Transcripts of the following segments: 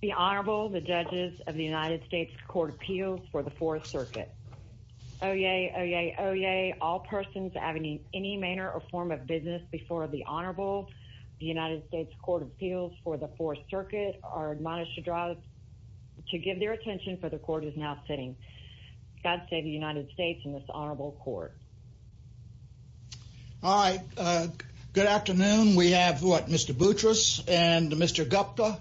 The Honorable, the judges of the United States Court of Appeals for the Fourth Circuit. Oyez, oyez, oyez, all persons having any manner or form of business before the Honorable, the United States Court of Appeals for the Fourth Circuit are admonished to draw to give their attention for the court is now sitting. God save the United States and this Honorable Court. All right, good afternoon. We have what, Mr. Boutrous and Mr. Gupta.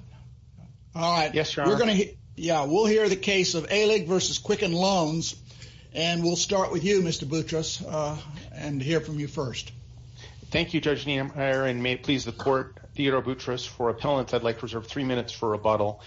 Yes, Your Honor. Yeah, we'll hear the case of Alig v. Quicken Loans and we'll start with you, Mr. Boutrous, and hear from you first. Thank you, Judge Niemeyer, and may it please the court, Theodore Boutrous, for appellants. I'd like to reserve three minutes for rebuttal.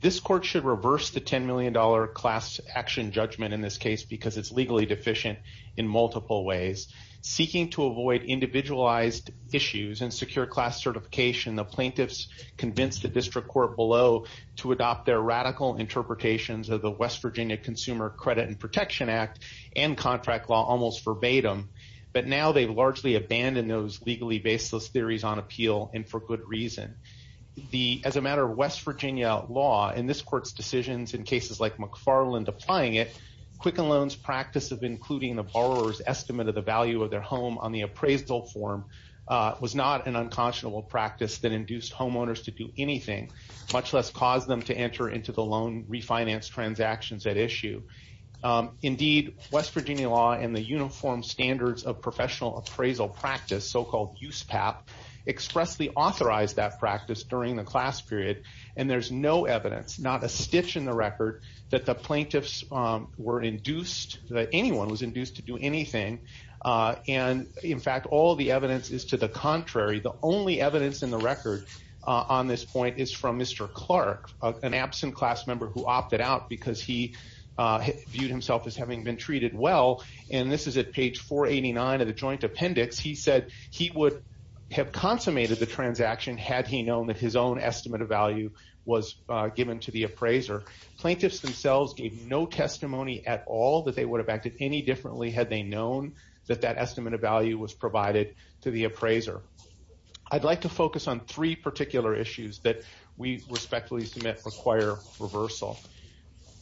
This court should reverse the $10 million class action judgment in this case because it's legally deficient in multiple ways. Seeking to avoid individualized issues and secure class certification, the plaintiffs convinced the district court below to adopt their radical interpretations of the West Virginia Consumer Credit and Protection Act and contract law almost verbatim. But now they've largely abandoned those legally baseless theories on appeal, and for good reason. As a matter of West Virginia law, in this court's decisions in cases like McFarland applying it, Quicken Loans' practice of including the borrower's estimate of the value of their was not an unconscionable practice that induced homeowners to do anything, much less cause them to enter into the loan refinance transactions at issue. Indeed, West Virginia law and the uniform standards of professional appraisal practice, so-called USPAP, expressly authorized that practice during the class period, and there's no evidence, not a stitch in the record, that the plaintiffs were induced, that anyone was induced to do anything. And in fact, all the evidence is to the contrary. The only evidence in the record on this point is from Mr. Clark, an absent class member who opted out because he viewed himself as having been treated well. And this is at page 489 of the joint appendix. He said he would have consummated the transaction had he known that his own estimate of value was given to the appraiser. Plaintiffs themselves gave no testimony at all that they would have acted any differently had they known that that estimate of value was provided to the appraiser. I'd like to focus on three particular issues that we respectfully submit require reversal.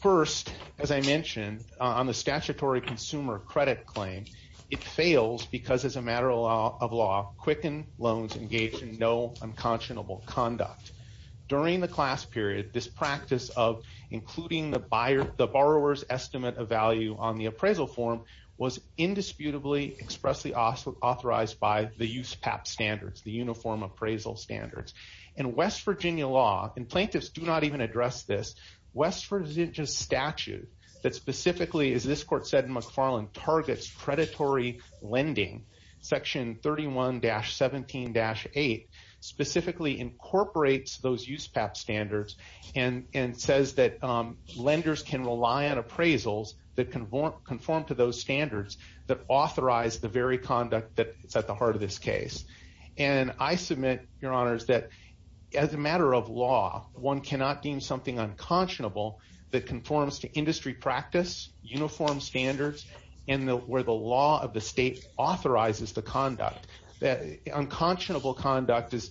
First, as I mentioned, on the statutory consumer credit claim, it fails because as a matter of law, Quicken Loans engaged in no unconscionable conduct. During the class period, this practice of including the borrower's estimate of value on the appraisal form was indisputably expressly authorized by the USPAP standards, the Uniform Appraisal Standards. In West Virginia law, and plaintiffs do not even address this, West Virginia statute that specifically, as this court said in McFarland, targets predatory lending, section 31-17-8, specifically incorporates those USPAP standards and says that lenders can rely on appraisals that conform to those standards that authorize the very conduct that's at the heart of this case. And I submit, your honors, that as a matter of law, one cannot deem something unconscionable that conforms to industry practice, uniform standards, and where the law of the state authorizes the conduct. Unconscionable conduct is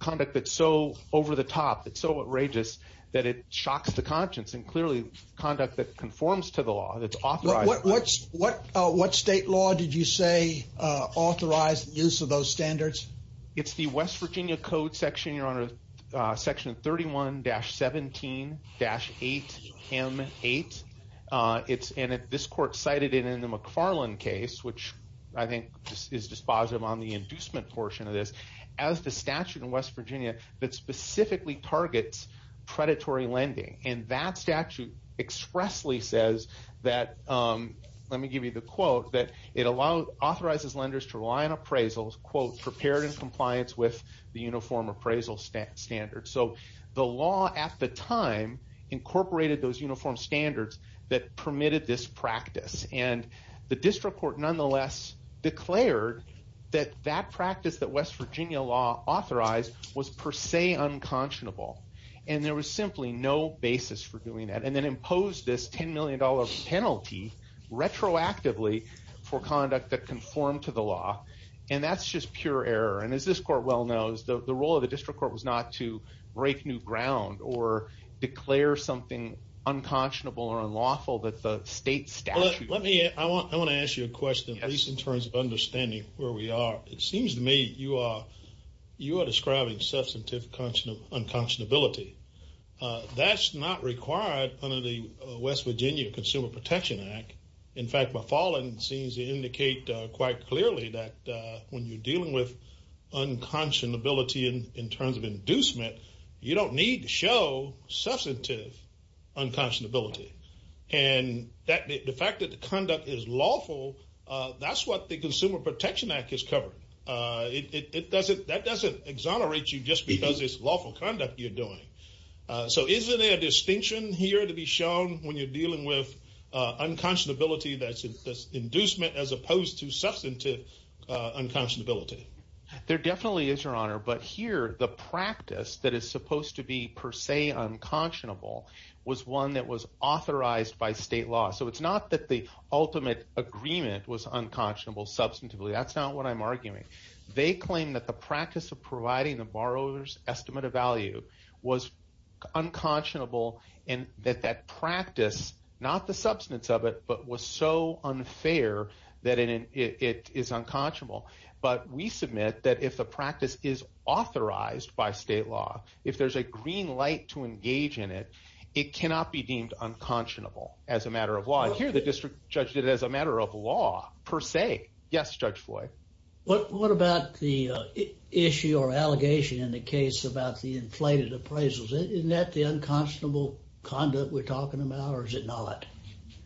conduct that's so over the top, that's so outrageous, that it shocks the conscience. And clearly, conduct that conforms to the law, that's authorized. What state law did you say authorized the use of those standards? It's the West Virginia Code section, your honor, which I think is dispositive on the inducement portion of this, as the statute in West Virginia that specifically targets predatory lending. And that statute expressly says that, let me give you the quote, that it authorizes lenders to rely on appraisals, quote, prepared in compliance with the Uniform Appraisal Standards. So the law at the time incorporated those Uniform Standards that permitted this practice. And the district court nonetheless declared that that practice that West Virginia law authorized was per se unconscionable. And there was simply no basis for doing that. And then imposed this $10 million penalty retroactively for conduct that conformed to the law. And that's just pure error. And as this court well knows, the role of the district court was not to break new ground or declare something unconscionable or unlawful that the state statute. Well, let me, I want to ask you a question, at least in terms of understanding where we are. It seems to me you are describing substantive unconscionability. That's not required under the West Virginia Consumer Protection Act. In fact, my following scenes indicate quite clearly that when you're dealing with unconscionability in terms of inducement, you don't need to show substantive unconscionability. And that, the fact that the conduct is lawful, that's what the Consumer Protection Act is covering. It doesn't, that doesn't exonerate you just because it's lawful conduct you're doing. So isn't there a distinction here to be shown when you're dealing with unconscionability that's inducement as opposed to substantive unconscionability? There definitely is, your honor. But here, the practice that is supposed to be per se unconscionable was one that was authorized by state law. So it's not that the ultimate agreement was unconscionable substantively. That's not what I'm arguing. They claim that the practice of providing the borrower's estimate of value was unconscionable and that that practice, not the substance of it, but was so unfair that it is unconscionable. But we submit that if the practice is authorized by state law, if there's a green light to engage in it, it cannot be deemed unconscionable as a matter of law. Here, the district judge did it as a matter of law per se. Yes, Judge Floyd? What about the issue or allegation in the case about the inflated appraisals? Isn't that the unconscionable conduct we're talking about or is it not?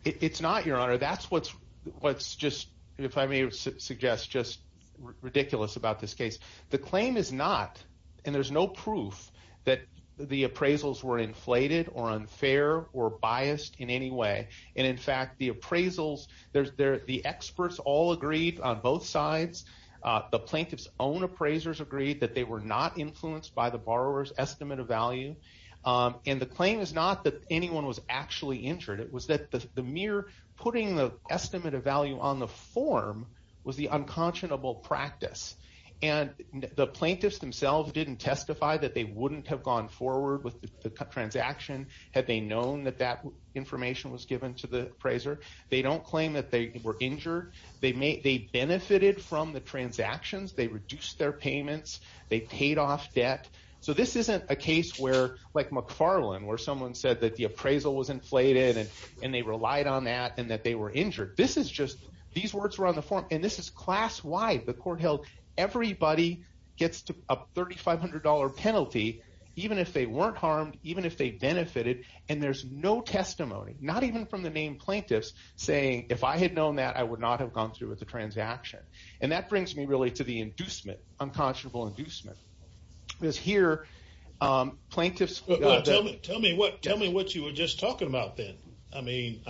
It's not, your honor. That's what's just, if I may suggest, just ridiculous about this case. The claim is not and there's no proof that the appraisals were inflated or unfair or biased in any way. And in fact, the appraisals, the experts all agreed on both sides. The borrower's estimate of value and the claim is not that anyone was actually injured. It was that the mere putting the estimate of value on the form was the unconscionable practice. And the plaintiffs themselves didn't testify that they wouldn't have gone forward with the transaction had they known that that information was given to the appraiser. They don't claim that they were injured. They benefited from the transactions. They reduced their payments. They paid off debt. So this isn't a case where, like McFarland, where someone said that the appraisal was inflated and they relied on that and that they were injured. This is just, these words were on the form and this is class-wide. The court held everybody gets a $3,500 penalty even if they weren't harmed, even if they benefited. And there's no testimony, not even from the main plaintiffs, saying if I had known that I would not have gone through with the transaction. And that brings me to the inducement, unconscionable inducement. Because here, plaintiffs- Tell me what you were just talking about then. I mean,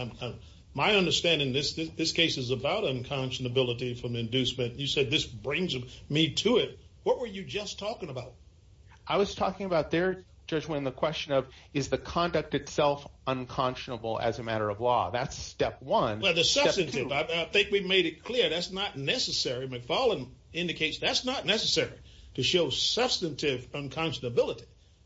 my understanding, this case is about unconscionability from inducement. You said this brings me to it. What were you just talking about? I was talking about there, Judge Winn, the question of is the conduct itself unconscionable as a matter of law? That's step one. I think we made it clear that's not necessary. McFarland indicates that's not necessary to show substantive unconscionability.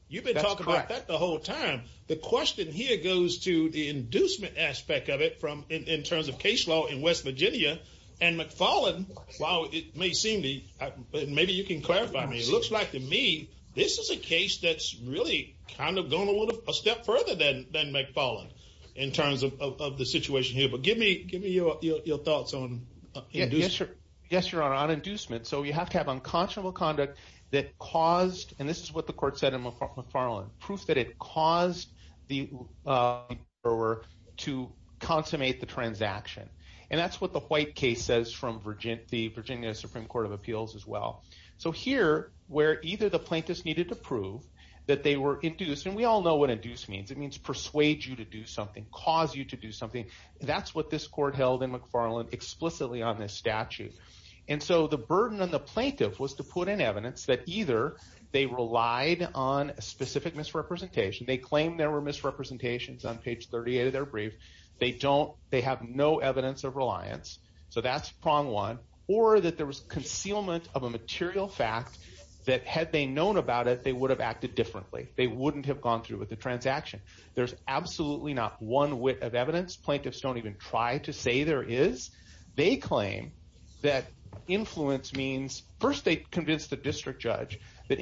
You've been talking about that the whole time. The question here goes to the inducement aspect of it in terms of case law in West Virginia. And McFarland, while it may seem to, maybe you can clarify, it looks like to me, this is a case that's really kind of going a step further than McFarland in terms of the inducement. Give me your thoughts on inducement. Yes, Your Honor, on inducement. So you have to have unconscionable conduct that caused, and this is what the court said in McFarland, proof that it caused the borrower to consummate the transaction. And that's what the White case says from the Virginia Supreme Court of Appeals as well. So here, where either the plaintiffs needed to prove that they were induced, and we all know what induce means. It means persuade you to do something. That's what this court held in McFarland explicitly on this statute. And so the burden on the plaintiff was to put in evidence that either they relied on a specific misrepresentation. They claimed there were misrepresentations on page 38 of their brief. They have no evidence of reliance. So that's prong one. Or that there was concealment of a material fact that had they known about it, they would have acted differently. They wouldn't have gone through with the transaction. There's absolutely not one whit of evidence. Plaintiffs don't even try to say there is. They claim that influence means, first, they convince the district judge that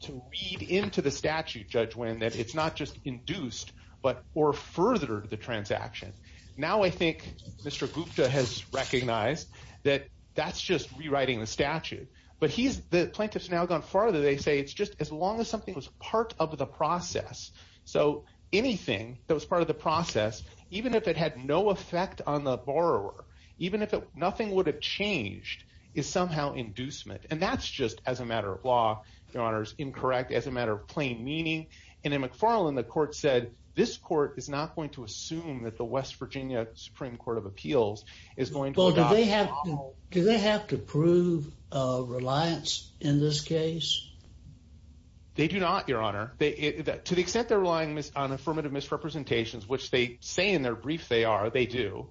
to read into the statute, Judge Winn, that it's not just induced, but or furthered the transaction. Now I think Mr. Gupta has recognized that that's just rewriting the statute. But the plaintiffs now have gone farther. They say it's just as long as something was part of the process. So anything that was part of the process, even if it had no effect on the borrower, even if nothing would have changed, is somehow inducement. And that's just as a matter of law, Your Honors, incorrect as a matter of plain meaning. And in McFarland, the court said this court is not going to assume that the West Virginia Supreme Court of Appeals is going to have to prove reliance in this case. They do not, Your Honor. To the extent they're relying on affirmative misrepresentations, which they say in their brief they are, they do.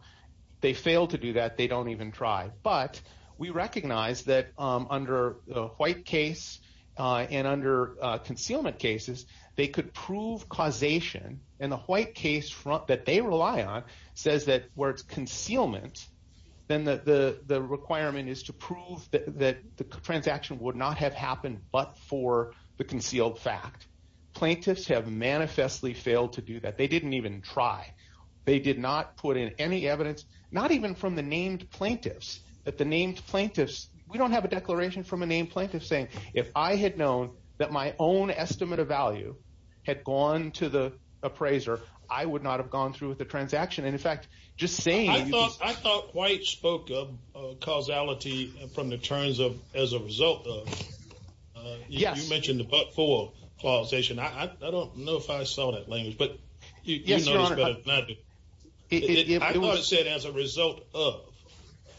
They fail to do that. They don't even try. But we recognize that under the white case and under concealment cases, they could prove causation. And the white case that they rely on says that where it's concealment, then the requirement is to prove that the transaction would not have happened but for the concealed fact. Plaintiffs have manifestly failed to do that. They didn't even try. They did not put in any evidence, not even from the named plaintiffs, that the named plaintiffs, we don't have a declaration from a named plaintiff saying, if I had known that my own estimate of value had gone to the appraiser, I would not have gone through with the transaction. And in fact, just saying. I thought White spoke of causality from the terms of as a result of. Yes. You mentioned the but-for causation. I don't know if I saw that language. But you know it's better not to. I thought it said as a result of.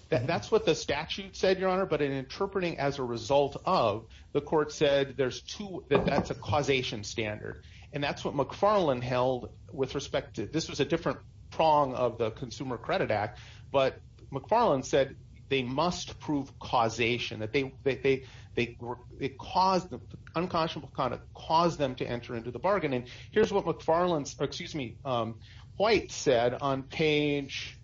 That's what the statute said, Your Honor. But in interpreting as a result of, the court said there's two, that that's a causation standard. And that's what McFarland held with respect to. This was a different prong of the Consumer Credit Act. But McFarland said they must prove causation. That they caused, the unconscionable conduct caused them to enter into the bargain. And here's what McFarland, excuse me, White said on page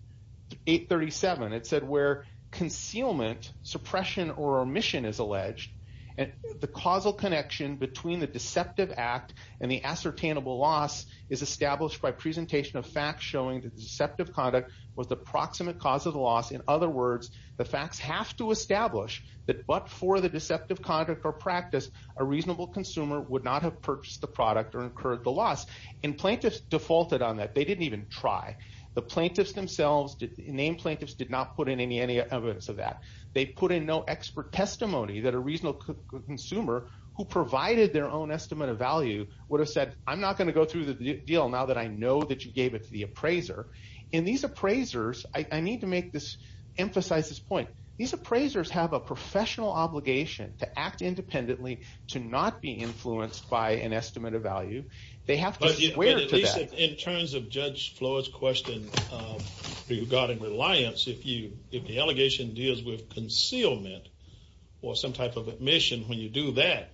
837. It said where concealment, suppression, or omission is alleged. And the causal connection between the deceptive act and the ascertainable loss is established by presentation of facts showing the deceptive conduct was the proximate cause of the loss. In other words, the facts have to establish that but for the deceptive conduct or practice, a reasonable consumer would not have purchased the product or incurred the loss. And plaintiffs defaulted on that. They didn't even try. The plaintiffs themselves, named plaintiffs, did not put in any evidence of that. They put in no expert testimony that a the deal now that I know that you gave it to the appraiser. And these appraisers, I need to make this, emphasize this point. These appraisers have a professional obligation to act independently to not be influenced by an estimate of value. They have to swear to that. In terms of Judge Floyd's question regarding reliance, if the allegation deals with concealment or some type of omission when you do that,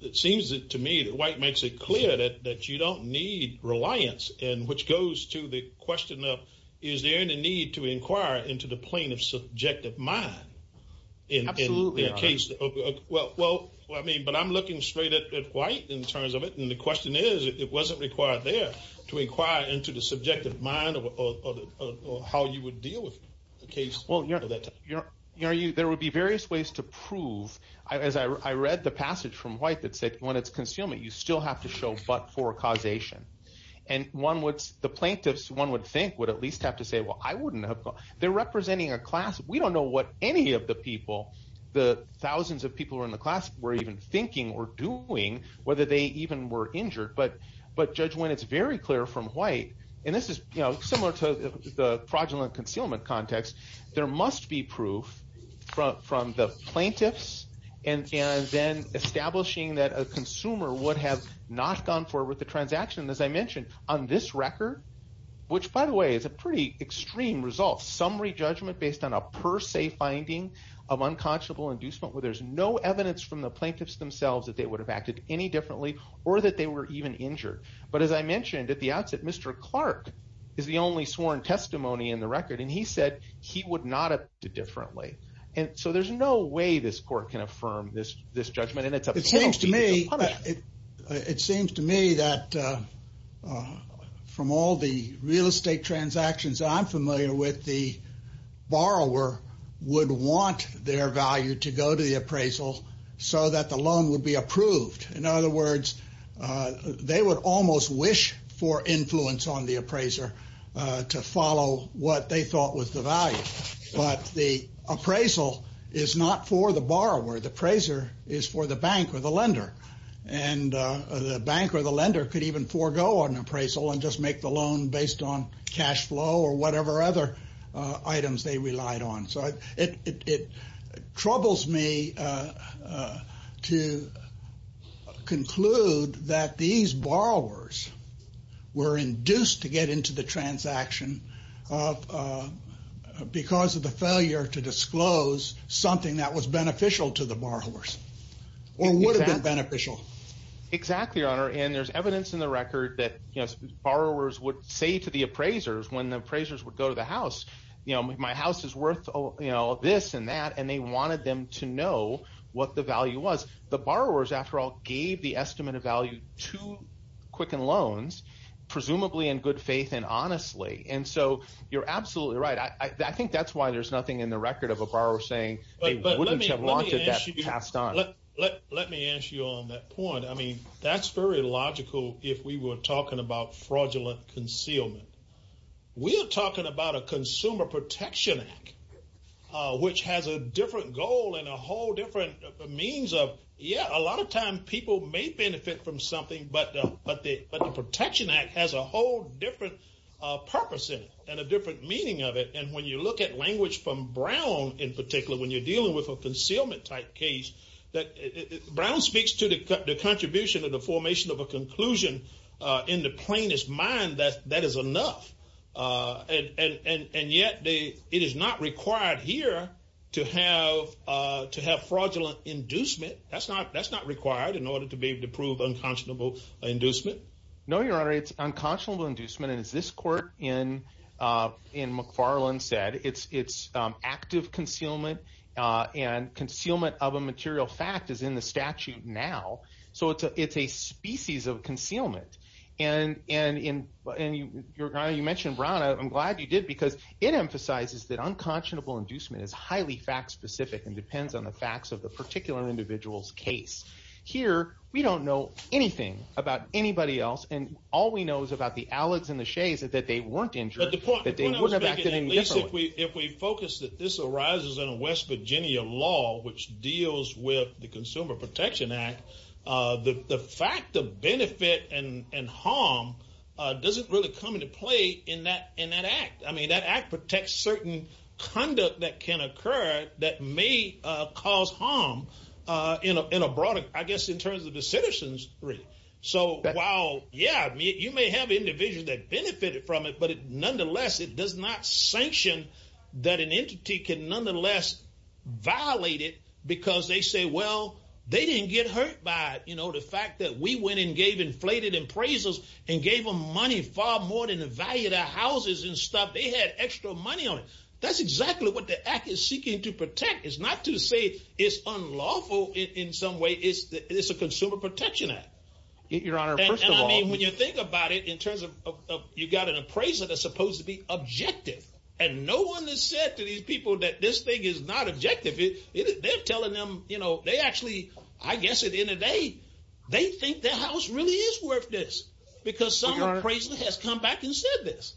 it seems to me that White makes it clear that you don't need reliance. And which goes to the question of, is there any need to inquire into the plaintiff's subjective mind in the case? Well, I mean, but I'm looking straight at White in terms of it. And the question is, it wasn't required there to inquire into the subjective mind or how you would deal with the case. Well, there would be various ways to prove. As I read the passage from White that said, when it's concealment, you still have to show but for causation. And the plaintiffs, one would think, would at least have to say, well, I wouldn't have gone. They're representing a class. We don't know what any of the people, the thousands of people who are in the class, were even thinking or doing, whether they even were injured. But Judge Wynne, it's very clear from White, and this is similar to the fraudulent concealment context, there must be proof from the plaintiffs. And then establishing that a consumer would have not gone forward with the transaction, as I mentioned, on this record. Which, by the way, is a pretty extreme result. Summary judgment based on a per se finding of unconscionable inducement where there's no evidence from the plaintiffs themselves that they would have acted any differently or that they were even injured. But as I mentioned at the outset, Mr. Clark is the only sworn testimony in the record. And he said he would not have acted differently. And so there's no way this court can affirm this judgment. And it's up to the court. It seems to me that from all the real estate transactions I'm familiar with, the borrower would want their value to go to the appraisal so that the loan would be approved. In other words, they would almost wish for influence on the appraiser to follow what they thought was the value. But the appraisal is not for the borrower. The appraiser is for the bank or the lender. And the bank or the lender could even forego an appraisal and just make the loan based on cash flow or whatever other items they relied on. So it troubles me to conclude that these borrowers were induced to get into the transaction because of the failure to disclose something that was beneficial to the borrowers or would have been beneficial. Exactly, Your Honor. And there's evidence in the record that borrowers would say to the appraisers when the appraisers would go to the house, you know, my house is worth this and that. And they wanted them to know what the value was. The borrowers, after all, gave the estimate of value to Quicken Loans, presumably in good faith and honestly. And so you're absolutely right. I think that's why there's nothing in the record of a borrower saying they wouldn't have wanted that passed on. Let me ask you on that point. I mean, that's very logical if we were talking about fraudulent concealment. We are talking about a lot of time people may benefit from something, but the Protection Act has a whole different purpose in it and a different meaning of it. And when you look at language from Brown, in particular, when you're dealing with a concealment type case, Brown speaks to the contribution of the formation of a conclusion in the plainest mind that that is enough. And yet it is not required here to have fraudulent inducement. That's not required in order to be able to prove unconscionable inducement. No, Your Honor, it's unconscionable inducement. And as this court in McFarland said, it's active concealment and concealment of a I'm glad you did, because it emphasizes that unconscionable inducement is highly fact-specific and depends on the facts of the particular individual's case. Here, we don't know anything about anybody else, and all we know is about the Alecs and the Shays that they weren't injured, that they wouldn't have acted any differently. If we focus that this arises in a West Virginia law, which deals with the Consumer Protection Act, the fact of benefit and harm doesn't really come into play in that act. I mean, that act protects certain conduct that can occur that may cause harm in a broader, I guess, in terms of the citizens. So while, yeah, you may have individuals that benefited from it, but nonetheless, it does not sanction that an entity can nonetheless violate it because they say, they didn't get hurt by the fact that we went and gave inflated appraisals and gave them money far more than the value of their houses and stuff. They had extra money on it. That's exactly what the act is seeking to protect. It's not to say it's unlawful in some way. It's a Consumer Protection Act. Your Honor, first of all- And I mean, when you think about it in terms of you got an appraiser that's supposed to be objective, and no one has said to these people that this thing is not I guess at the end of the day, they think their house really is worth this because some appraiser has come back and said this.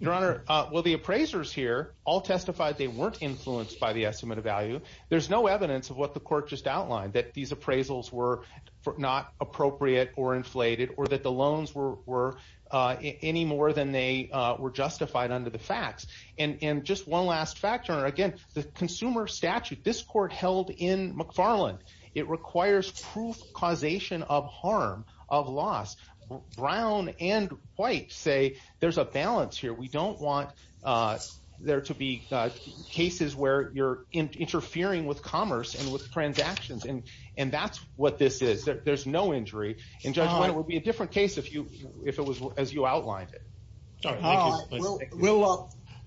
Your Honor, well, the appraisers here all testified they weren't influenced by the estimate of value. There's no evidence of what the court just outlined, that these appraisals were not appropriate or inflated or that the loans were any more than they were justified under the facts. And just one last factor, again, the consumer statute, this court held in McFarland. It requires proof causation of harm, of loss. Brown and White say there's a balance here. We don't want there to be cases where you're interfering with commerce and with transactions. And that's what this is. There's no injury. And Judge Wendell, it would be a different case if it was as you outlined it. All right. Thank you.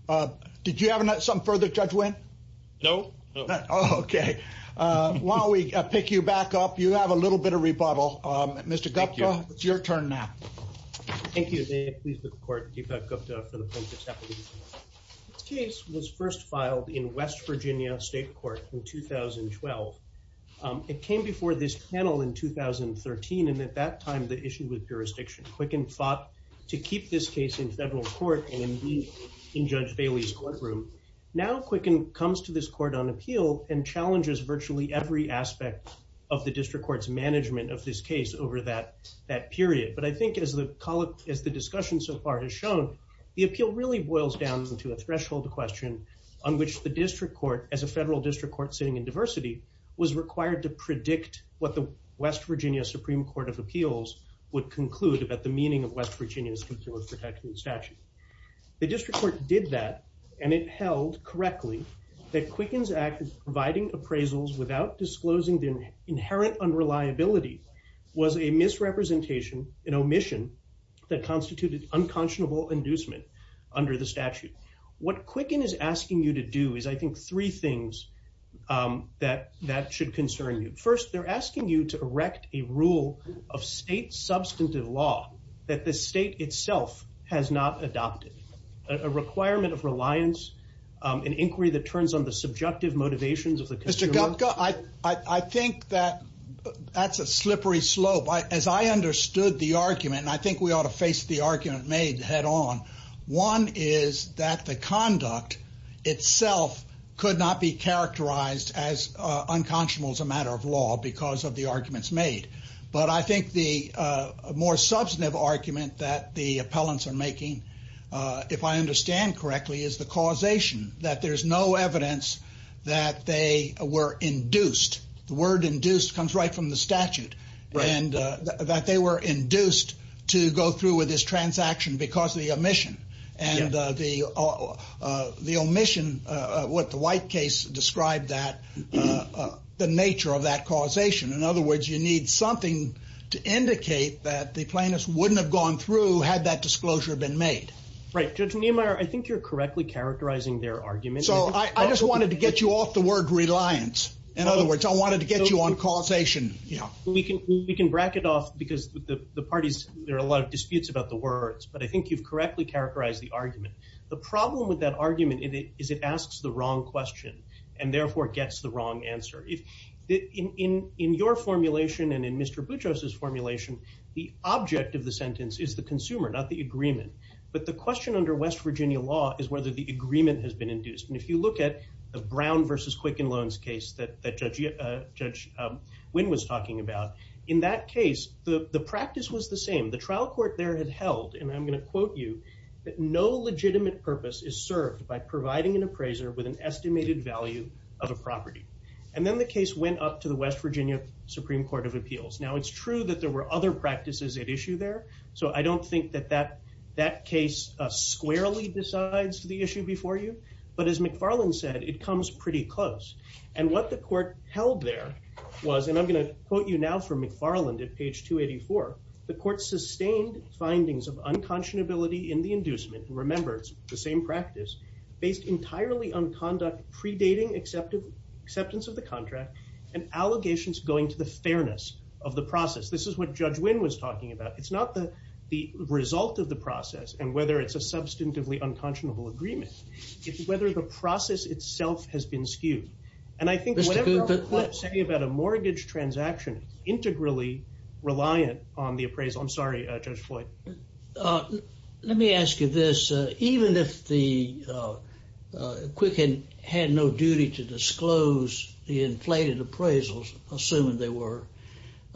Well, did you have some further judgment? No. Okay. While we pick you back up, you have a little bit of rebuttal. Mr. Gupta, it's your turn now. Thank you, Dave. Please look at the court. This case was first filed in West Virginia State Court in 2012. It came before this panel in 2013. And at that time, the issue with jurisdiction, Quicken fought to keep this case in federal court in Judge Bailey's courtroom. Now, Quicken comes to this court on appeal and challenges virtually every aspect of the district court's management of this case over that period. But I think as the discussion so far has shown, the appeal really boils down to a threshold question on which the district court, as a federal district court sitting in diversity, was required to predict what the West Virginia Supreme Court of Appeals would conclude about the meaning of West Virginia's The district court did that, and it held correctly that Quicken's act of providing appraisals without disclosing the inherent unreliability was a misrepresentation, an omission, that constituted unconscionable inducement under the statute. What Quicken is asking you to do is, I think, three things that should concern you. First, they're asking you to erect a rule of state substantive law that the state itself has not adopted, a requirement of reliance, an inquiry that turns on the subjective motivations of the consumer. Mr. Gopka, I think that that's a slippery slope. As I understood the argument, and I think we ought to face the argument made head on, one is that the conduct itself could not be characterized as unconscionable as a matter of law because of the arguments made, but I think the more substantive argument that the appellants are making, if I understand correctly, is the causation that there's no evidence that they were induced. The word induced comes right from the statute, and that they were induced to go through with this transaction because of the omission, and the omission, what the White case described that, the nature of that causation. In other words, you need something to indicate that the plaintiffs wouldn't have gone through had that disclosure been made. Right. Judge Niemeyer, I think you're correctly characterizing their argument. So I just wanted to get you off the word reliance. In other words, I wanted to get you on causation. We can bracket off because the parties, there are a lot of disputes about the words, but I think you've correctly characterized the argument. The problem with that argument is it asks the wrong question, and therefore gets the wrong answer. In your formulation and in Mr. Boutros' formulation, the object of the sentence is the consumer, not the agreement, but the question under West Virginia law is whether the agreement has been induced. And if you look at the Brown versus Quicken Loans case that Judge Wynn was talking about, in that case, the practice was the same. The trial court there had held, and I'm going to quote you, that no legitimate purpose is served by providing an appraiser with an estimated value of a property. And then the case went up to the West Virginia Supreme Court of Appeals. Now, it's true that there were other practices at issue there, so I don't think that that case squarely decides the issue before you, but as McFarland said, it comes pretty close. And what the court held there was, and I'm going to quote you now from McFarland at page 284, the court sustained findings of unconscionability in the inducement, and remember, it's the same practice, based entirely on conduct predating acceptance of the contract and allegations going to the fairness of the process. This is what Judge Wynn was talking about. It's not the result of the process and whether it's a substantively unconscionable agreement. It's whether the process itself has been skewed. And I think whatever I'm saying about a mortgage transaction is integrally reliant on the appraisal. I'm sorry, Judge Floyd. Let me ask you this. Even if the Quicken had no duty to disclose the inflated appraisals, assuming they were,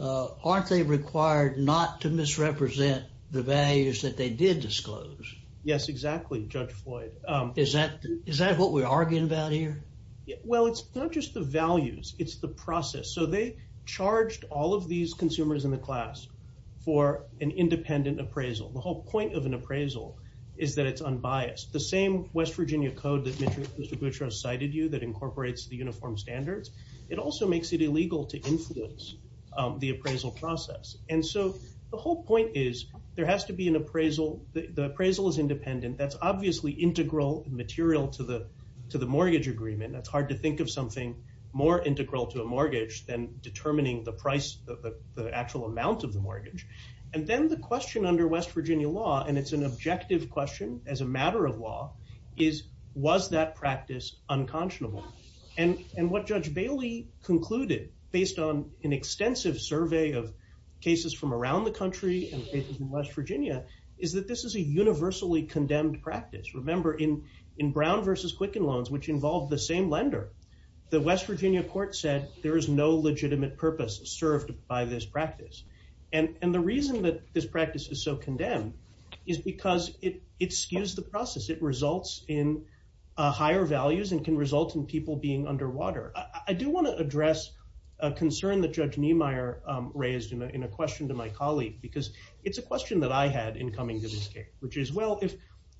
aren't they required not to misrepresent the values that they did disclose? Yes, exactly, Judge Floyd. Is that what we're arguing about here? Well, it's not just the values. It's the process. So they charged all of these consumers in the class for an independent appraisal. The whole point of an appraisal is that it's unbiased. The same West Virginia code that Mr. Guttrauss cited you that incorporates the uniform standards, it also makes it illegal to influence the appraisal process. And so the whole point is there has to be an appraisal. The appraisal is independent. That's obviously integral material to the mortgage agreement. That's hard to think of something more integral to a mortgage than determining the price, the actual amount of the mortgage. And then the question under West Virginia law, and it's an objective question as a matter of law, is was that practice unconscionable? And what Judge Bailey concluded based on an extensive survey of cases from around the country and cases in West Virginia is that this is a universally condemned practice. Remember, in Brown versus Quicken loans, which involved the same lender, the West Virginia court said there is no legitimate purpose served by this practice. And the reason that this practice is so condemned is because it skews the process. It results in higher values and can result in people being underwater. I do want to address a concern that Judge Niemeyer raised in a question to my colleague because it's a question that I had coming to this case, which is, well,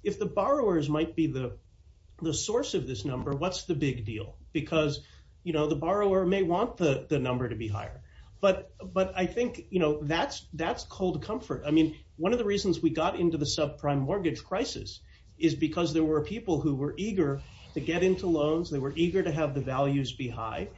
if the borrowers might be the source of this number, what's the big deal? Because the borrower may want the number to be higher. But I think that's cold comfort. I mean, one of the reasons we got into the subprime mortgage crisis is because there were people who were eager to get into loans. They were eager to have the values be high.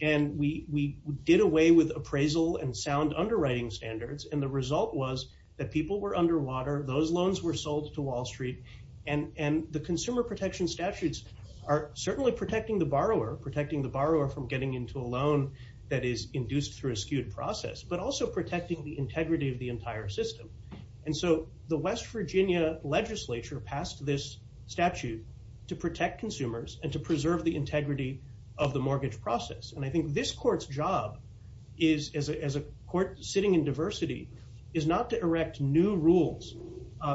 And we did away with appraisal and sound underwriting standards. And the result was that people were underwater. Those loans were sold to Wall Street. And the consumer protection statutes are certainly protecting the borrower, protecting the borrower from getting into a loan that is induced through a skewed process, but also protecting the integrity of the entire system. And so the West Virginia legislature passed this statute to protect consumers and to preserve the integrity of the mortgage process. And I think this court's job is, as a court sitting in diversity, is not to erect new rules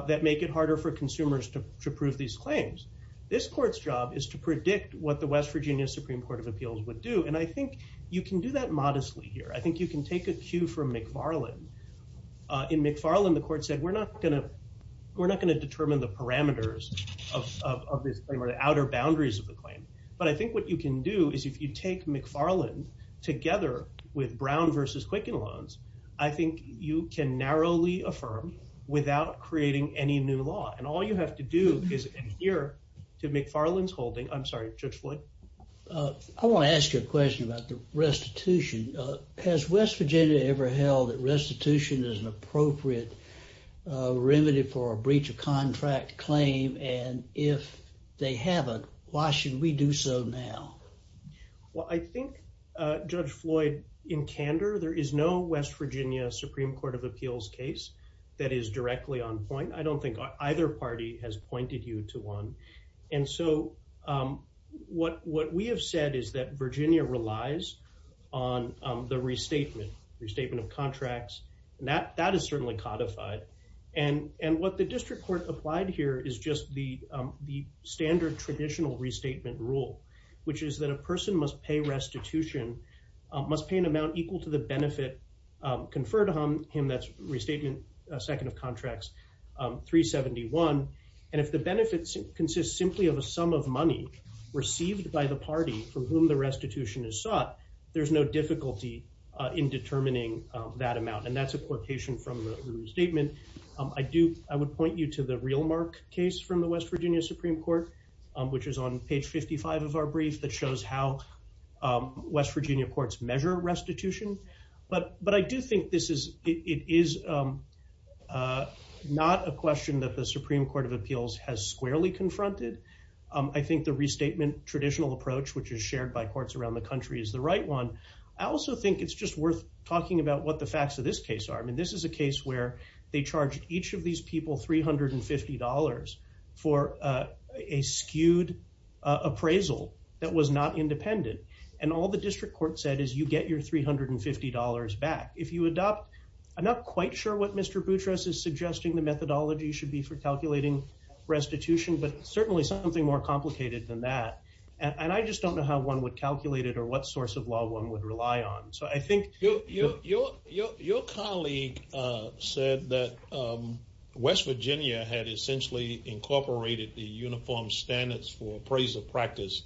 that make it harder for consumers to approve these claims. This court's job is to predict what the West Virginia Supreme Court of Appeals would do. And I think you can do that modestly here. I think you can take a cue from McFarland. In McFarland, the court said, we're not going to determine the parameters of this claim or the outer boundaries of the claim. But I think what you can do is, if you take McFarland together with Brown versus Quicken loans, I think you can narrowly affirm without creating any new law. And all you have to do is adhere to McFarland's holding. I'm sorry, Judge Floyd. I want to ask you a question about the restitution. Has West Virginia ever held that restitution is an appropriate remedy for a breach of contract claim? And if they haven't, why should we do so now? Well, I think, Judge Floyd, in candor, there is no West Virginia Supreme Court of Appeals case that is directly on point. I don't think either party has pointed you to one. And so what we have said is that Virginia relies on the restatement, restatement of contracts. And that is certainly codified. And what the district court applied here is just the standard traditional restatement rule, which is that a person must pay restitution, must pay an amount equal to the benefit conferred on him. That's restatement, second of contracts, 371. And if the benefits consist simply of a sum of money received by the party for whom the restitution is sought, there's no difficulty in determining that amount. And that's a quotation from the restatement. I would point you to the Realmark case from the West Virginia Supreme Court, which is on page 55 of our brief that shows how West Virginia courts measure restitution. But I do think it is not a question that the Supreme Court of Appeals has squarely confronted. I think the restatement traditional approach, which is shared by courts around the country, is the right one. I also think it's just worth talking about what the facts of this case are. This is a case where they charged each of these people $350 for a skewed appraisal that was not independent. And all the district court said is you get your $350 back. I'm not quite sure what Mr. Boutros is suggesting the methodology should be for calculating restitution, but certainly something more complicated than that. And I just don't know how one would calculate it or what source of law one would rely on. So I think... Your colleague said that West Virginia had essentially incorporated the uniform standards for appraisal practice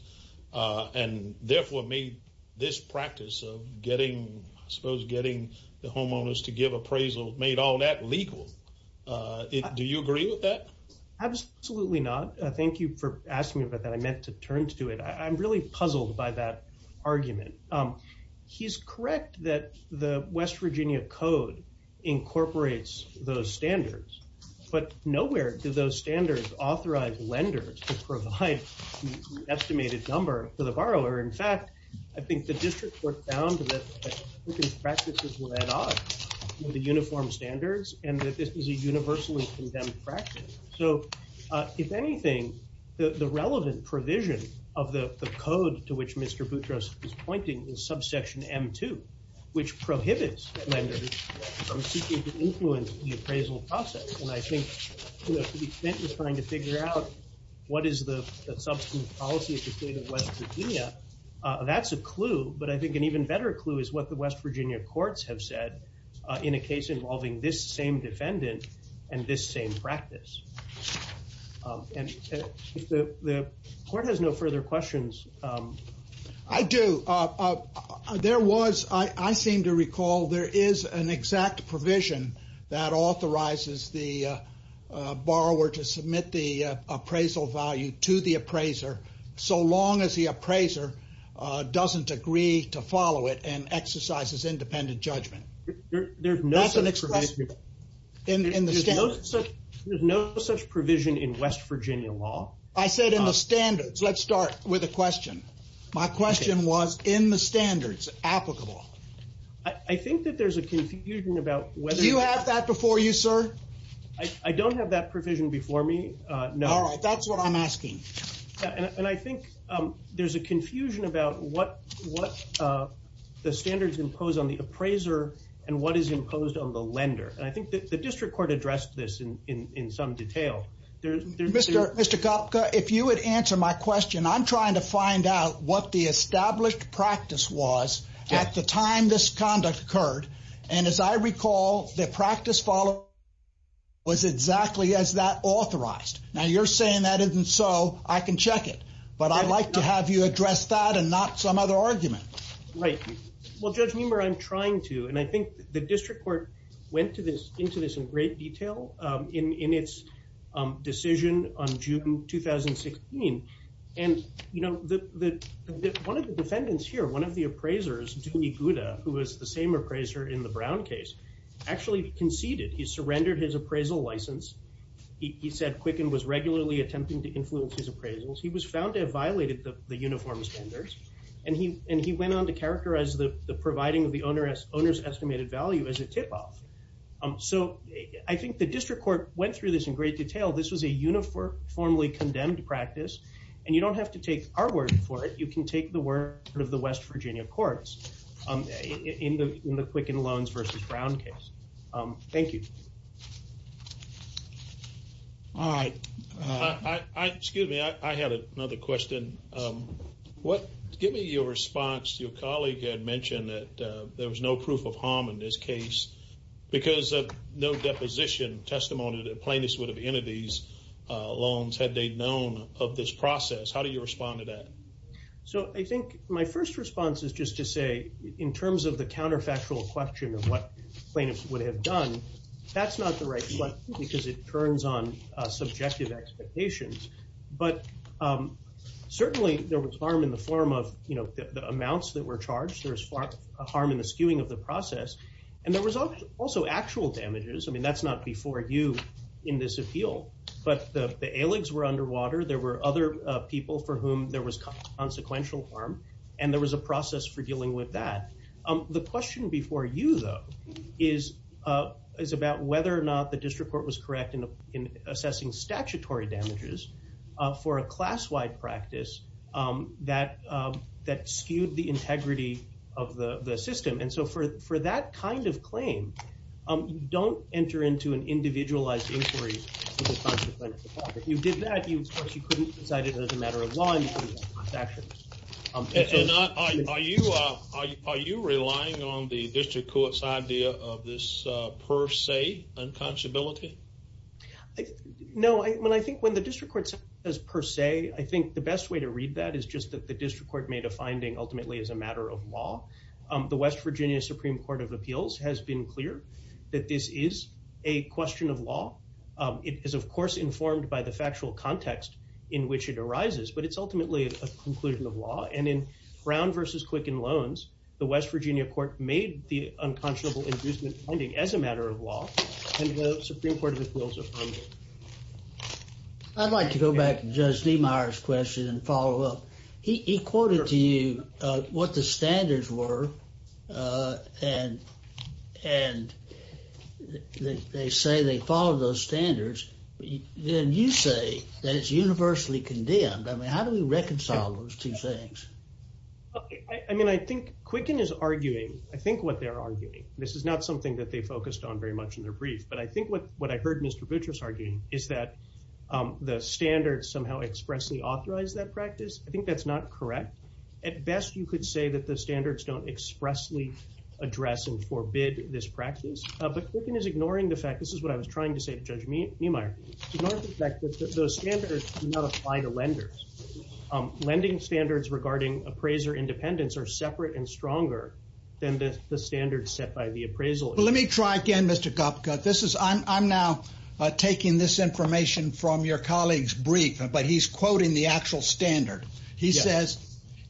and therefore made this practice of getting, I suppose, getting the homeowners to give appraisal made all that legal. Do you agree with that? Absolutely not. Thank you for asking me about that. I meant to turn to it. I'm really puzzled by that argument. He's correct that the West Virginia code incorporates those standards, but nowhere do those standards authorize lenders to provide the estimated number for the borrower. In fact, I think the district court found that this practice was led on with the uniform standards and that this is a universally condemned practice. So if anything, the relevant provision of the code to which Mr. Boutros is pointing is subsection M2, which prohibits lenders from seeking to influence the appraisal process. And I think the defense is trying to figure out what is the substantive policy of the state of West Virginia. That's a clue, but I think an even better clue is what the West Virginia courts have said in a case involving this same defendant and this same practice. And the court has no further questions. I do. There was, I seem to recall there is an exact provision that authorizes the borrower to submit the appraisal value to the appraiser so long as the appraiser doesn't agree to follow it and exercises independent judgment. There's no such provision. There's no such provision in West Virginia law. I said in the standards. Let's start with a question. My question was in the standards applicable. I think that there's a confusion about whether... Do you have that before you, sir? I don't have that provision before me. No. All right. That's what I'm asking. And I think there's a confusion about what the standards impose on the appraiser and what is imposed on the lender. And I think that the district court addressed this in some detail. Mr. Kopka, if you would answer my question, I'm trying to find out what the established practice was at the time this conduct occurred. And as I recall, the practice followed was exactly as that authorized. Now, you're saying that isn't so. I can check it, but I'd like to have you address that and not some other argument. Right. Well, Judge Meemer, I'm trying to. And I think the district court went into this in great detail in its decision on June 2016. And one of the defendants here, one of the appraisers, who was the same appraiser in the Brown case, actually conceded. He surrendered his appraisal license. He said Quicken was regularly attempting to influence his appraisals. He was found to have violated the uniform standards. And he went on to characterize the providing of the owner's estimated value as a tip-off. So I think the district court went through this in great detail. This was a uniformly condemned practice. And you don't have to take our word for it. You can take the word of the West Virginia courts in the Quicken loans versus Brown case. Thank you. All right. Excuse me. I have another question. Give me your response. Your colleague had mentioned that there was no proof of harm in this case because of no deposition testimony that a plaintiff would have entered these loans had they known of this process. How do you respond to that? So I think my first response is just to say, in terms of the counterfactual question of what plaintiffs would have done, that's not the right response because it turns on subjective expectations. But certainly, there was harm in the form of the amounts that were charged. There was harm in the skewing of the process. And there was also actual damages. I mean, that's not before you in this appeal. But the ailings were underwater. There were other people for whom there was consequential harm. And there was a process for dealing with that. The question before you, though, is about whether or not the district court was correct in assessing statutory damages for a class-wide practice that skewed the integrity of the system. And so for that kind of claim, don't enter into an individualized inquiry with a consequential harm. If you did that, of course, you couldn't decide it as a matter of law. Are you relying on the district court's idea of this per se unconscibility? No. I mean, I think when the district court says per se, I think the best way to read that is just that the district court made a finding ultimately as a matter of law. The West Virginia Supreme Court of Appeals has been clear that this is a question of law. It is, of course, informed by the factual context in which it arises. But it's ultimately a conclusion of law. And in Brown versus Quicken Loans, the West Virginia court made the unconscionable inducement finding as a matter of law. And the Supreme Court of Appeals affirmed it. I'd like to go back to Judge Niemeyer's question and follow up. He quoted to you what the standards were. And they say they follow those standards. Then you say that it's universally condemned. I mean, how do we reconcile those two things? I mean, I think Quicken is arguing, I think what they're arguing, this is not something that they focused on very much in their brief. But I think what I heard Mr. Butrus arguing is that the standards somehow expressly authorize that practice. I think that's not correct. At best, you could say that the standards don't expressly address and forbid this practice. But Quicken is ignoring the fact, this is what I was trying to say to Judge Niemeyer, ignoring the fact that those standards do not apply to lenders. Lending standards regarding appraiser independence are separate and stronger than the standards set by the appraisal. Well, let me try again, Mr. Gopka. I'm now taking this information from your colleague's brief, but he's quoting the actual standard. He says,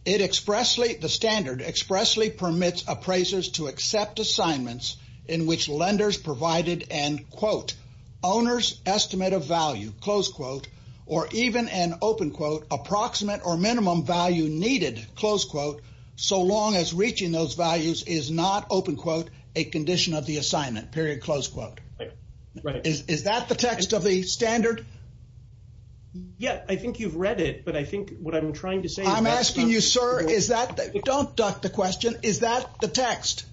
the standard expressly permits appraisers to accept assignments in which lenders provided an, quote, owner's estimate of value, close quote, or even an, open quote, approximate or minimum value needed, close quote, so long as reaching those values is not, open quote, a condition of the assignment, period, close quote. Right. Is that the text of the standard? Yeah, I think you've read it, but I think what I'm trying to say- I'm asking you, sir, is that, don't duck the question, is that the text?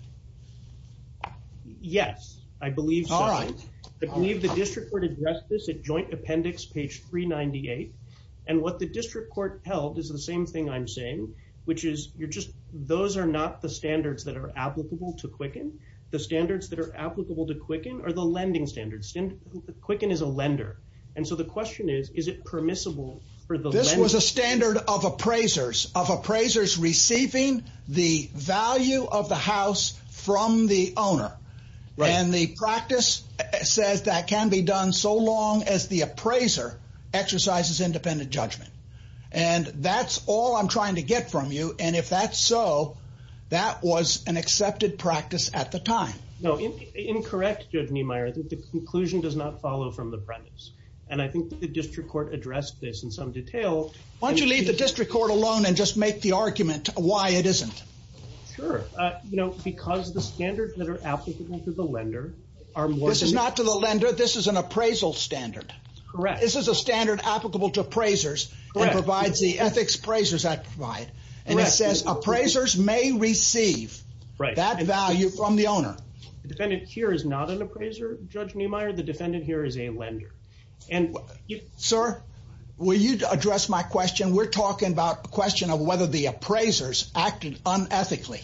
Yes, I believe so. All right. I believe the district court addressed this at joint appendix, page 398. And what the district court held is the same thing I'm saying, which is, you're just, those are not the standards that are applicable to Quicken. The standards that are applicable to Quicken are the lending standards. Quicken is a lender. And so the question is, is it permissible for the lender- This was a standard of appraisers, of appraisers receiving the value of the house from the owner. And the practice says that can be done so long as the appraiser exercises independent judgment. And that's all I'm trying to get from you. And if that's so, that was an accepted practice at the time. No, incorrect, Judge Niemeyer. The conclusion does not follow from the premise. And I think the district court addressed this in some detail. Why don't you leave the district court alone and just make the argument why it isn't? Sure. Because the standards that are applicable to the lender are more- This is not to the lender. This is an appraisal standard. Correct. This is a standard applicable to provides the ethics appraisers that provide. And it says appraisers may receive that value from the owner. The defendant here is not an appraiser, Judge Niemeyer. The defendant here is a lender. Sir, will you address my question? We're talking about the question of whether the appraisers acted unethically.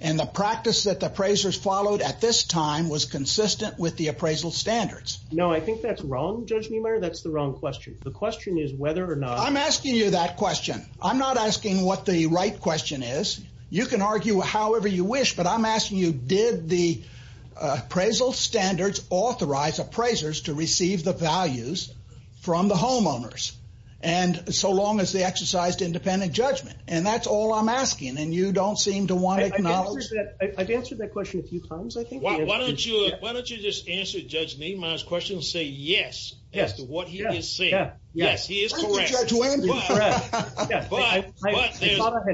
And the practice that the appraisers followed at this time was consistent with the appraisal standards. No, I think that's wrong, Judge Niemeyer. That's the wrong question. The question is whether or not- I'm asking you that question. I'm not asking what the right question is. You can argue however you wish, but I'm asking you, did the appraisal standards authorize appraisers to receive the values from the homeowners? And so long as they exercised independent judgment. And that's all I'm asking. And you don't seem to want to acknowledge- I've answered that question a few times, I think. Why don't you just answer Judge Niemeyer's question and say, yes, that's what he is saying. Yes, he is correct.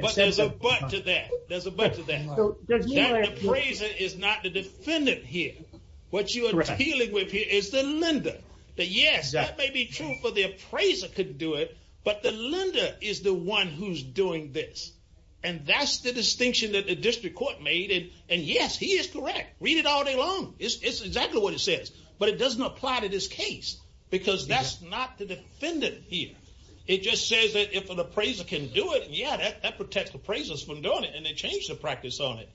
But there's a but to that. The appraiser is not the defendant here. What you are dealing with here is the lender. But yes, that may be true for the appraiser could do it, but the lender is the one who's doing this. And that's the distinction that the district court made. And yes, he is correct. Read it all day long. It's exactly what it says, but it doesn't apply to this case because that's not the defendant here. It just says that if an appraiser can do it, yeah, that protects appraisers from doing it and they change the practice on it.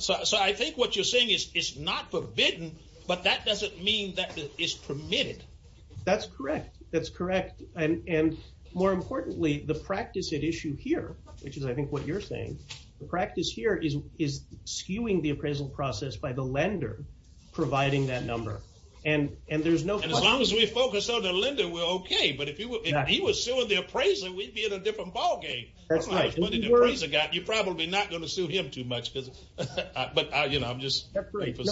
So I think what you're saying is it's not forbidden, but that doesn't mean that it's permitted. That's correct. That's correct. And more importantly, the practice at issue here, which is I think what you're saying, the practice here is skewing the appraisal process by the appraiser. And as long as we focus on the lender, we're okay. But if he was suing the appraiser, we'd be at a different ballgame. That's right. You're probably not going to sue him too much. But you know, I'm just.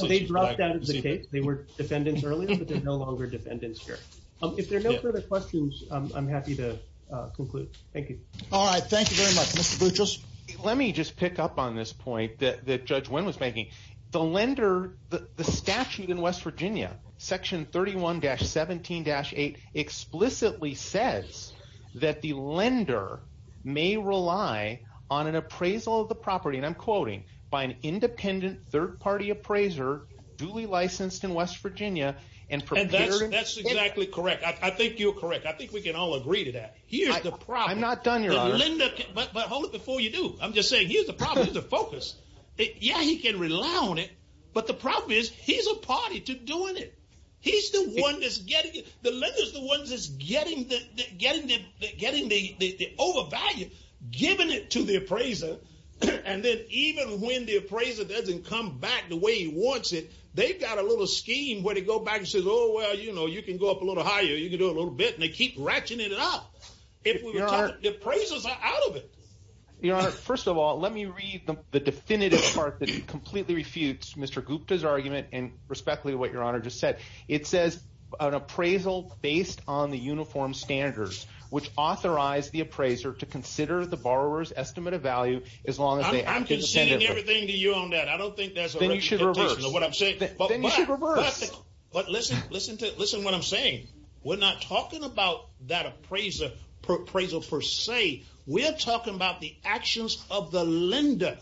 They dropped out of the case. They were defendants earlier, but they're no longer defendants here. If there are no further questions, I'm happy to conclude. Thank you. All right. Thank you very much, Mr. Buchholz. Let me just pick up on this point that Judge Wynn was making. The lender, the statute in West Virginia, section 31-17-8 explicitly says that the lender may rely on an appraisal of the property, and I'm quoting, by an independent third-party appraiser duly licensed in West Virginia and prepared. That's exactly correct. I think you're correct. I think we can all agree to that. Here's the problem. I'm not done, Your Honor. But hold it before you do. I'm just saying, the problem is the focus. Yeah, he can rely on it, but the problem is he's a party to doing it. He's the one that's getting it. The lender's the ones that's getting the overvalue, giving it to the appraiser. And then even when the appraiser doesn't come back the way he wants it, they've got a little scheme where they go back and says, oh, well, you know, you can go up a little higher. You can do a little bit, and they keep ratcheting it up. If we were talking, the appraisers are out of it. Your Honor, first of all, let me read the definitive part that completely refutes Mr. Gupta's argument and respectfully what Your Honor just said. It says an appraisal based on the uniform standards, which authorize the appraiser to consider the borrower's estimate of value as long as they- I'm conceding everything to you on that. I don't think there's a- Then you should reverse. But listen to what I'm saying. We're not talking about that appraisal per se. We're talking about the actions of the lender.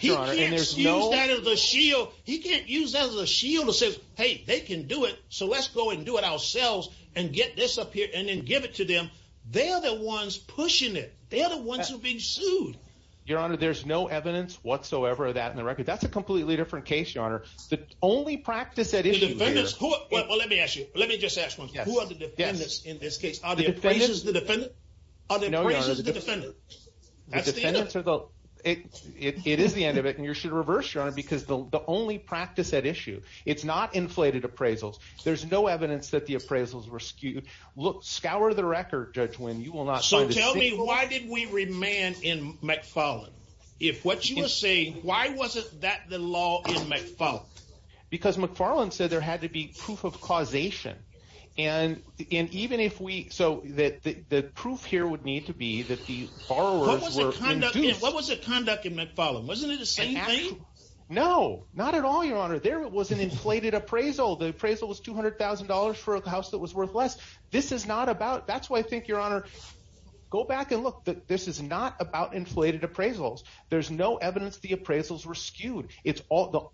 He can't use that as a shield. He can't use that as a shield to say, hey, they can do it, so let's go and do it ourselves and get this up here and then give it to them. They're the ones pushing it. They're the ones who are being sued. Your Honor, there's no evidence whatsoever of that in the record. That's a completely different case, Your Honor. The only practice at issue here- The defendants- Well, let me ask you. Let me just ask one thing. Who are the defendants in this case? Are the appraisers the defendant? Are the appraisers the defendant? That's the end of it. It is the end of it, and you should reverse, Your Honor, because the only practice at issue, it's not inflated appraisals. There's no evidence that the appraisals were skewed. Look, scour the record, Judge Wynn. You will not find a- Tell me, why did we remand in McFarland? If what you were saying, why wasn't that the law in McFarland? Because McFarland said there had to be proof of causation. The proof here would need to be that the borrowers were induced- What was the conduct in McFarland? Wasn't it the same thing? No, not at all, Your Honor. There was an inflated appraisal. The appraisal was $200,000 for a house that was worth less. This is not about- That's why I think, Your Honor, go back and look. This is not about inflated appraisals. There's no evidence the appraisals were skewed. The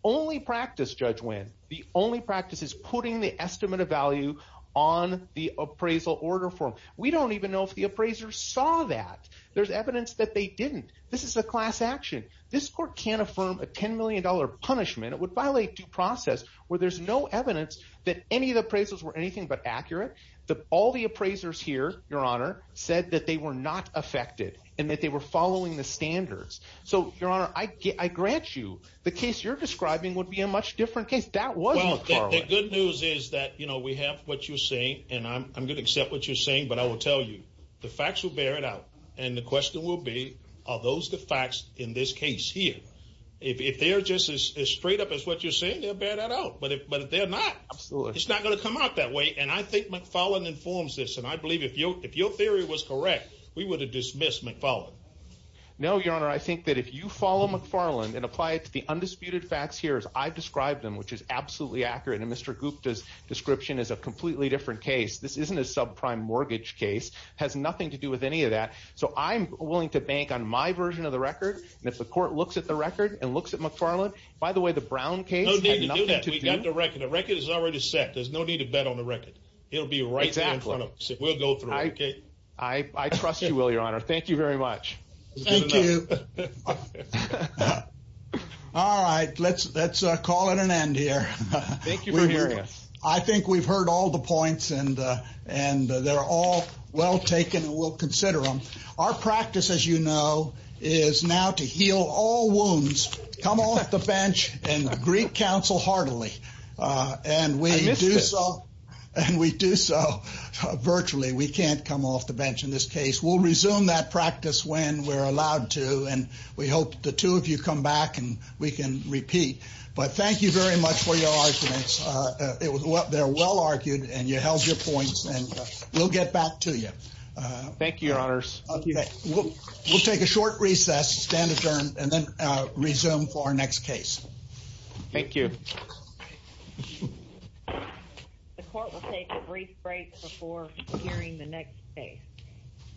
only practice, Judge Wynn, the only practice is putting the estimate of value on the appraisal order form. We don't even know if the appraisers saw that. There's evidence that they didn't. This is a class action. This court can't affirm a $10 million punishment. It would violate due process where there's no evidence that any of the appraisers here, Your Honor, said that they were not affected and that they were following the standards. Your Honor, I grant you, the case you're describing would be a much different case. That was McFarland. The good news is that we have what you're saying, and I'm going to accept what you're saying, but I will tell you, the facts will bear it out. The question will be, are those the facts in this case here? If they're just as straight up as what you're saying, they'll bear that out. But if they're not, it's not going to come out that way, and I think McFarland informs this, and I believe if your theory was correct, we would have dismissed McFarland. No, Your Honor. I think that if you follow McFarland and apply it to the undisputed facts here as I've described them, which is absolutely accurate, and Mr. Gupta's description is a completely different case, this isn't a subprime mortgage case. It has nothing to do with any of that. So I'm willing to bank on my version of the record, and if the court looks at the record and looks at McFarland, by the way, the Brown case- We've got the record. The record is already set. There's no need to bet on the record. It'll be right in front of us. We'll go through it, okay? I trust you will, Your Honor. Thank you very much. Thank you. All right. Let's call it an end here. Thank you for hearing us. I think we've heard all the points, and they're all well taken, and we'll consider them. Our practice, as you know, is now to heal all wounds. Come on at the bench, and greet counsel heartily, and we do so virtually. We can't come off the bench in this case. We'll resume that practice when we're allowed to, and we hope the two of you come back, and we can repeat. But thank you very much for your arguments. They're well argued, and you held your points, and we'll get back to you. Thank you, Your Honors. We'll take a short recess, stand adjourned, and then resume for our next case. Thank you. The court will take a brief break before hearing the next case.